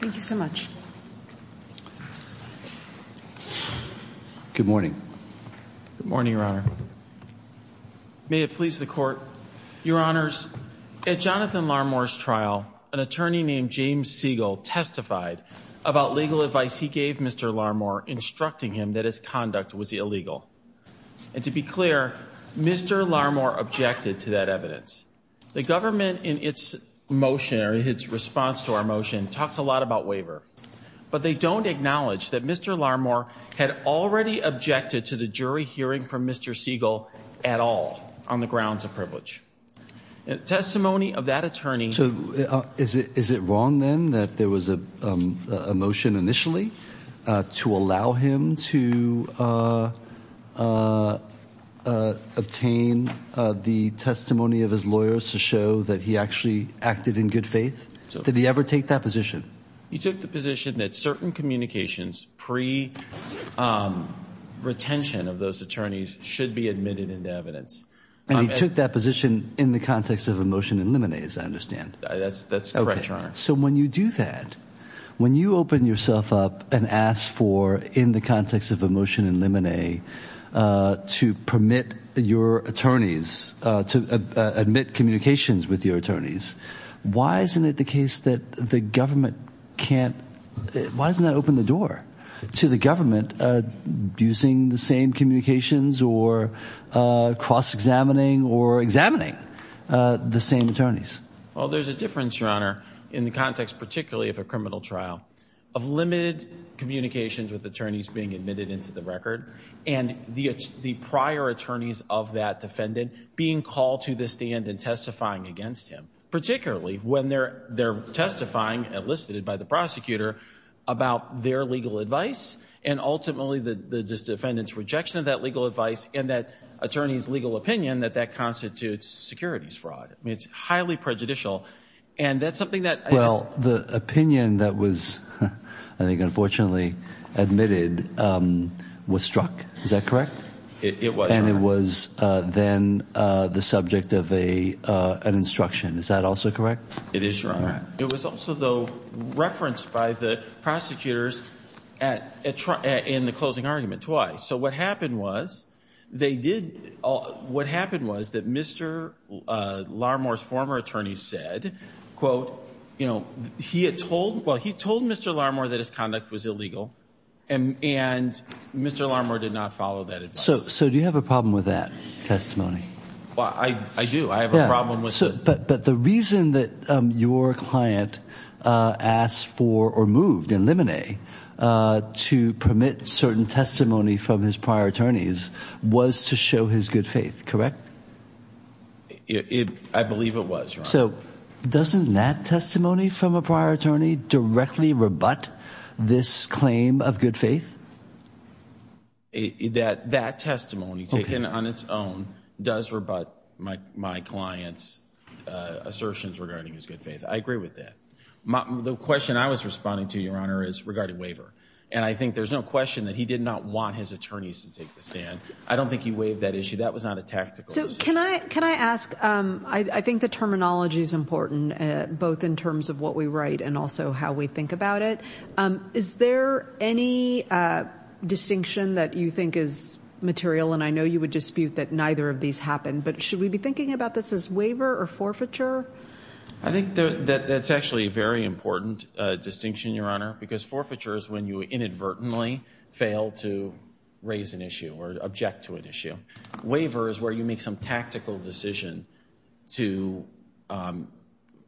Thank you so much. Good morning. Good morning, Your Honor. May it please the Court. Your Honors, at Jonathan Larmore's trial, an attorney named James Siegel testified about legal advice he gave Mr. Larmore, instructing him that his conduct was illegal. And to be clear, Mr. Larmore objected to that evidence. The government, in its motion, or its response to our motion, talks a lot about waiver. But they don't acknowledge that Mr. Larmore had already objected to the jury hearing from Mr. Siegel at all, on the grounds of privilege. Testimony of that attorney... Is it wrong then that there was a motion initially to allow him to obtain the testimony of his lawyers to show that he actually acted in good faith? Did he ever take that position? He took the position that certain communications pre-retention of those attorneys should be admitted into evidence. And he took that position in the context of a motion in limine, as I understand. That's correct, Your Honor. So when you do that, when you open yourself up and ask for, in the context of a motion in limine, to permit your attorneys to admit communications with your attorneys, why isn't it the case that the government can't... Why doesn't that open the door to the government abusing the same communications or cross-examining or examining the same attorneys? Well, there's a difference, Your Honor, in the context particularly of a criminal trial, of limited communications with attorneys being admitted into the record and the prior attorneys of that defendant being called to the stand and testifying against him. Particularly when they're testifying, elicited by the prosecutor, about their legal advice and ultimately the defendant's rejection of that legal advice and that attorney's legal opinion that that constitutes securities fraud. I mean, it's highly prejudicial, and that's something that... Well, the opinion that was, I think, unfortunately admitted was struck. Is that correct? It was, Your Honor. And it was then the subject of an instruction. Is that also correct? It is, Your Honor. It was also, though, referenced by the prosecutors in the closing argument twice. So what happened was they did... What happened was that Mr. Larmore's former attorney said, quote, you know, he had told... Well, he told Mr. Larmore that his conduct was illegal, and Mr. Larmore did not follow that advice. So do you have a problem with that testimony? Well, I do. I have a problem with it. But the reason that your client asked for or moved in limine to permit certain testimony from his prior attorneys was to show his good faith, correct? I believe it was, Your Honor. So doesn't that testimony from a prior attorney directly rebut this claim of good faith? That testimony taken on its own does rebut my client's assertions regarding his good faith. I agree with that. The question I was responding to, Your Honor, is regarding waiver. And I think there's no question that he did not want his attorneys to take the stand. I don't think he waived that issue. That was not a tactical decision. So can I ask? I think the terminology is important, both in terms of what we write and also how we think about it. Is there any distinction that you think is material, and I know you would dispute that neither of these happened, but should we be thinking about this as waiver or forfeiture? I think that's actually a very important distinction, Your Honor, because forfeiture is when you inadvertently fail to raise an issue or object to an issue. Waiver is where you make some tactical decision to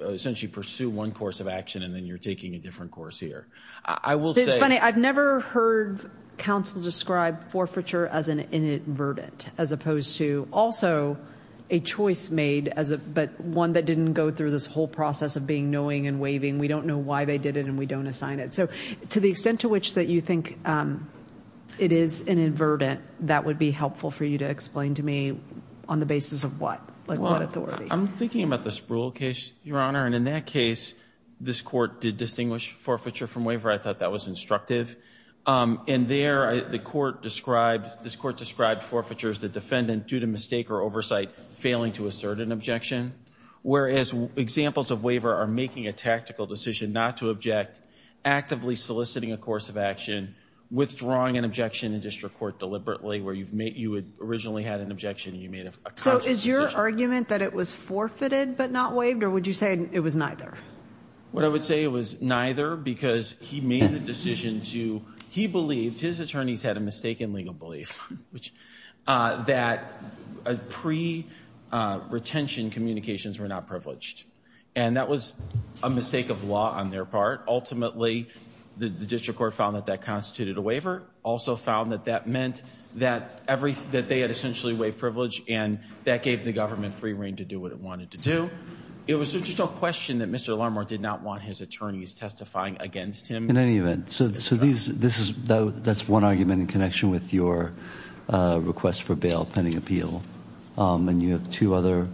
essentially pursue one course of action and then you're taking a different course here. It's funny. I've never heard counsel describe forfeiture as an inadvertent as opposed to also a choice made, but one that didn't go through this whole process of being knowing and waiving. We don't know why they did it, and we don't assign it. So to the extent to which that you think it is inadvertent, that would be helpful for you to explain to me on the basis of what, like what authority? I'm thinking about the Sproul case, Your Honor, and in that case this court did distinguish forfeiture from waiver. I thought that was instructive. And there the court described, this court described forfeiture as the defendant, due to mistake or oversight, failing to assert an objection, whereas examples of waiver are making a tactical decision not to object, actively soliciting a course of action, withdrawing an objection in district court deliberately where you originally had an objection and you made a conscious decision. Was there argument that it was forfeited but not waived, or would you say it was neither? What I would say it was neither because he made the decision to, he believed, his attorneys had a mistaken legal belief, that pre-retention communications were not privileged. And that was a mistake of law on their part. Ultimately, the district court found that that constituted a waiver, also found that that meant that they had essentially waived privilege and that gave the government free reign to do what it wanted to do. It was just a question that Mr. Larmore did not want his attorneys testifying against him. In any event, so that's one argument in connection with your request for bail pending appeal. And you have two other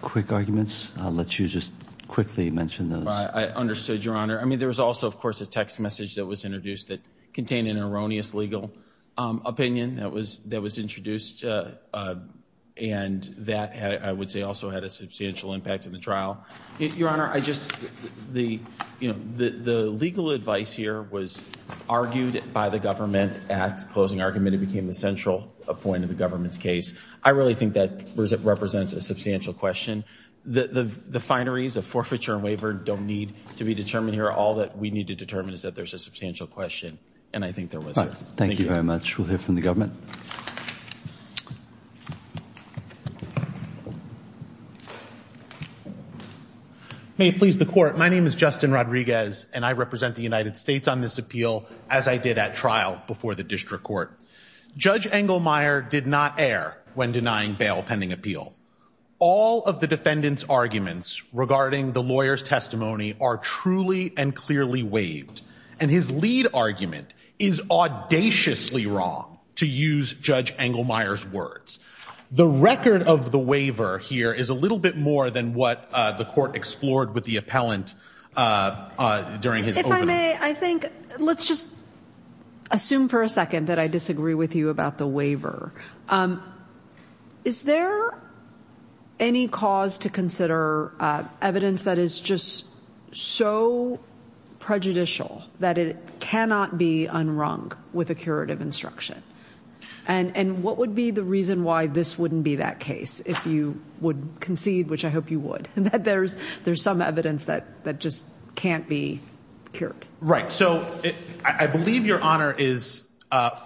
quick arguments. I'll let you just quickly mention those. I understood, Your Honor. I mean, there was also, of course, a text message that was introduced that contained an erroneous legal opinion that was introduced and that, I would say, also had a substantial impact in the trial. Your Honor, I just, you know, the legal advice here was argued by the government at closing argument. It became the central point of the government's case. I really think that represents a substantial question. The fineries of forfeiture and waiver don't need to be determined here. All that we need to determine is that there's a substantial question, and I think there was. Thank you very much. We'll hear from the government. May it please the court. My name is Justin Rodriguez, and I represent the United States on this appeal, as I did at trial before the district court. Judge Engelmeyer did not err when denying bail pending appeal. All of the defendant's arguments regarding the lawyer's testimony are truly and clearly waived. And his lead argument is audaciously wrong, to use Judge Engelmeyer's words. The record of the waiver here is a little bit more than what the court explored with the appellant during his opening. If I may, I think let's just assume for a second that I disagree with you about the waiver. Is there any cause to consider evidence that is just so prejudicial that it cannot be unwrung with a curative instruction? And what would be the reason why this wouldn't be that case, if you would concede, which I hope you would, that there's some evidence that just can't be cured? Right. So I believe Your Honor is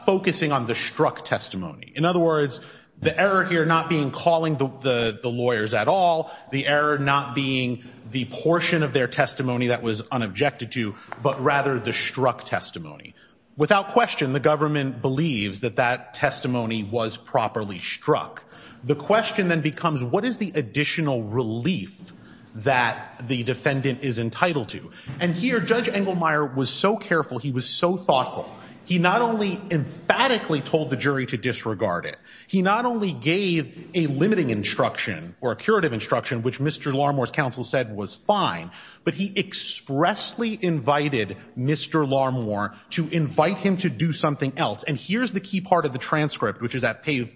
focusing on the struck testimony. In other words, the error here not being calling the lawyers at all, the error not being the portion of their testimony that was unobjected to, but rather the struck testimony. Without question, the government believes that that testimony was properly struck. The question then becomes, what is the additional relief that the defendant is entitled to? And here, Judge Engelmeyer was so careful, he was so thoughtful, he not only emphatically told the jury to disregard it, he not only gave a limiting instruction or a curative instruction, which Mr. Larmor's counsel said was fine, but he expressly invited Mr. Larmor to invite him to do something else. And here's the key part of the transcript, which is at page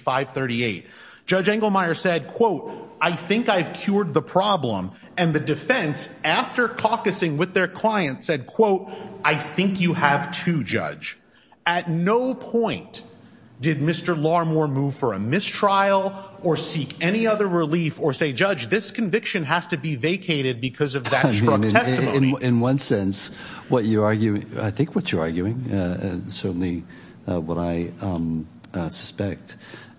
538. Judge Engelmeyer said, quote, I think I've cured the problem. And the defense, after caucusing with their client, said, quote, I think you have too, Judge. At no point did Mr. Larmor move for a mistrial or seek any other relief or say, Judge, this conviction has to be vacated because of that struck testimony. In one sense, I think what you're arguing, certainly what I suspect,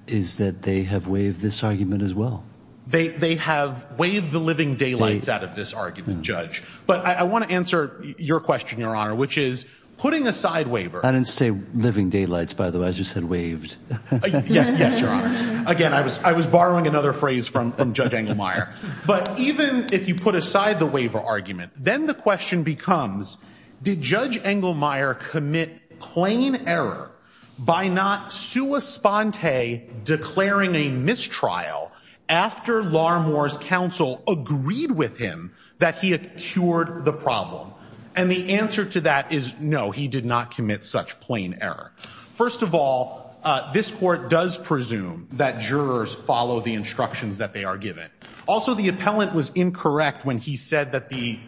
is that they have waived this argument as well. They have waived the living daylights out of this argument, Judge. But I want to answer your question, Your Honor, which is, putting aside waiver. I didn't say living daylights, by the way. I just said waived. Yes, Your Honor. Again, I was borrowing another phrase from Judge Engelmeyer. But even if you put aside the waiver argument, then the question becomes, did Judge Engelmeyer commit plain error by not sua sponte declaring a mistrial after Larmor's counsel agreed with him that he had cured the problem? And the answer to that is no, he did not commit such plain error. First of all, this court does presume that jurors follow the instructions that they are given. Also, the appellant was incorrect when he said that the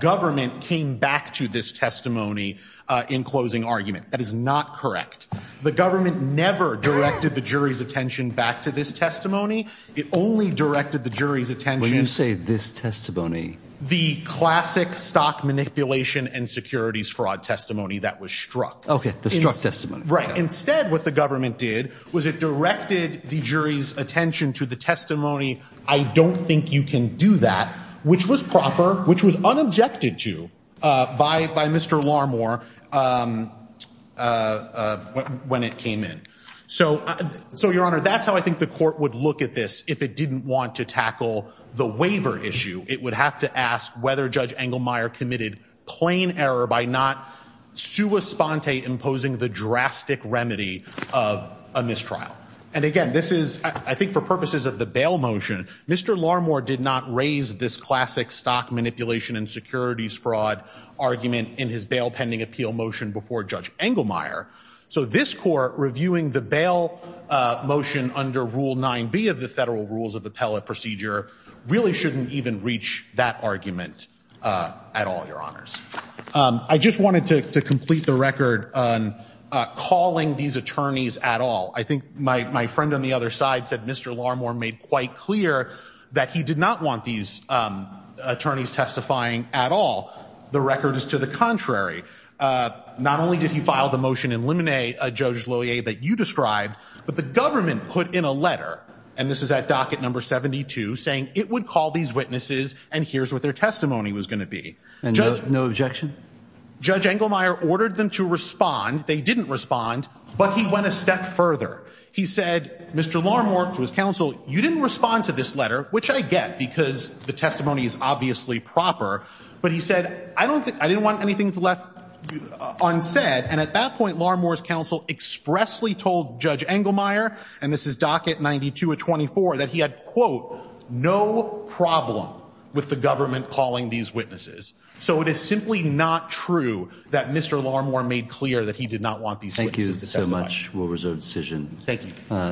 government came back to this testimony in closing argument. That is not correct. The government never directed the jury's attention back to this testimony. It only directed the jury's attention. When you say this testimony. The classic stock manipulation and securities fraud testimony that was struck. OK, the struck testimony. Instead, what the government did was it directed the jury's attention to the testimony. I don't think you can do that, which was proper, which was unobjected to by by Mr. Larmor when it came in. So, Your Honor, that's how I think the court would look at this. If it didn't want to tackle the waiver issue, it would have to ask whether Judge Engelmeyer committed plain error by not sua sponte imposing the drastic remedy of a mistrial. And again, this is, I think, for purposes of the bail motion. Mr. Larmor did not raise this classic stock manipulation and securities fraud argument in his bail pending appeal motion before Judge Engelmeyer. So this court reviewing the bail motion under Rule 9B of the Federal Rules of Appellate Procedure really shouldn't even reach that argument at all. Your honors. I just wanted to complete the record on calling these attorneys at all. I think my friend on the other side said Mr. Larmor made quite clear that he did not want these attorneys testifying at all. The record is to the contrary. Not only did he file the motion in limine, Judge Lohier, that you described, but the government put in a letter, and this is at docket number 72, saying it would call these witnesses and here's what their testimony was going to be. And no objection? Judge Engelmeyer ordered them to respond. They didn't respond, but he went a step further. He said, Mr. Larmor, to his counsel, you didn't respond to this letter, which I get because the testimony is obviously proper. But he said, I didn't want anything left unsaid. And at that point, Larmor's counsel expressly told Judge Engelmeyer, and this is docket 92 of 24, that he had, quote, no problem with the government calling these witnesses. So it is simply not true that Mr. Larmor made clear that he did not want these witnesses to testify. Thank you so much. We'll reserve the decision. Thank you.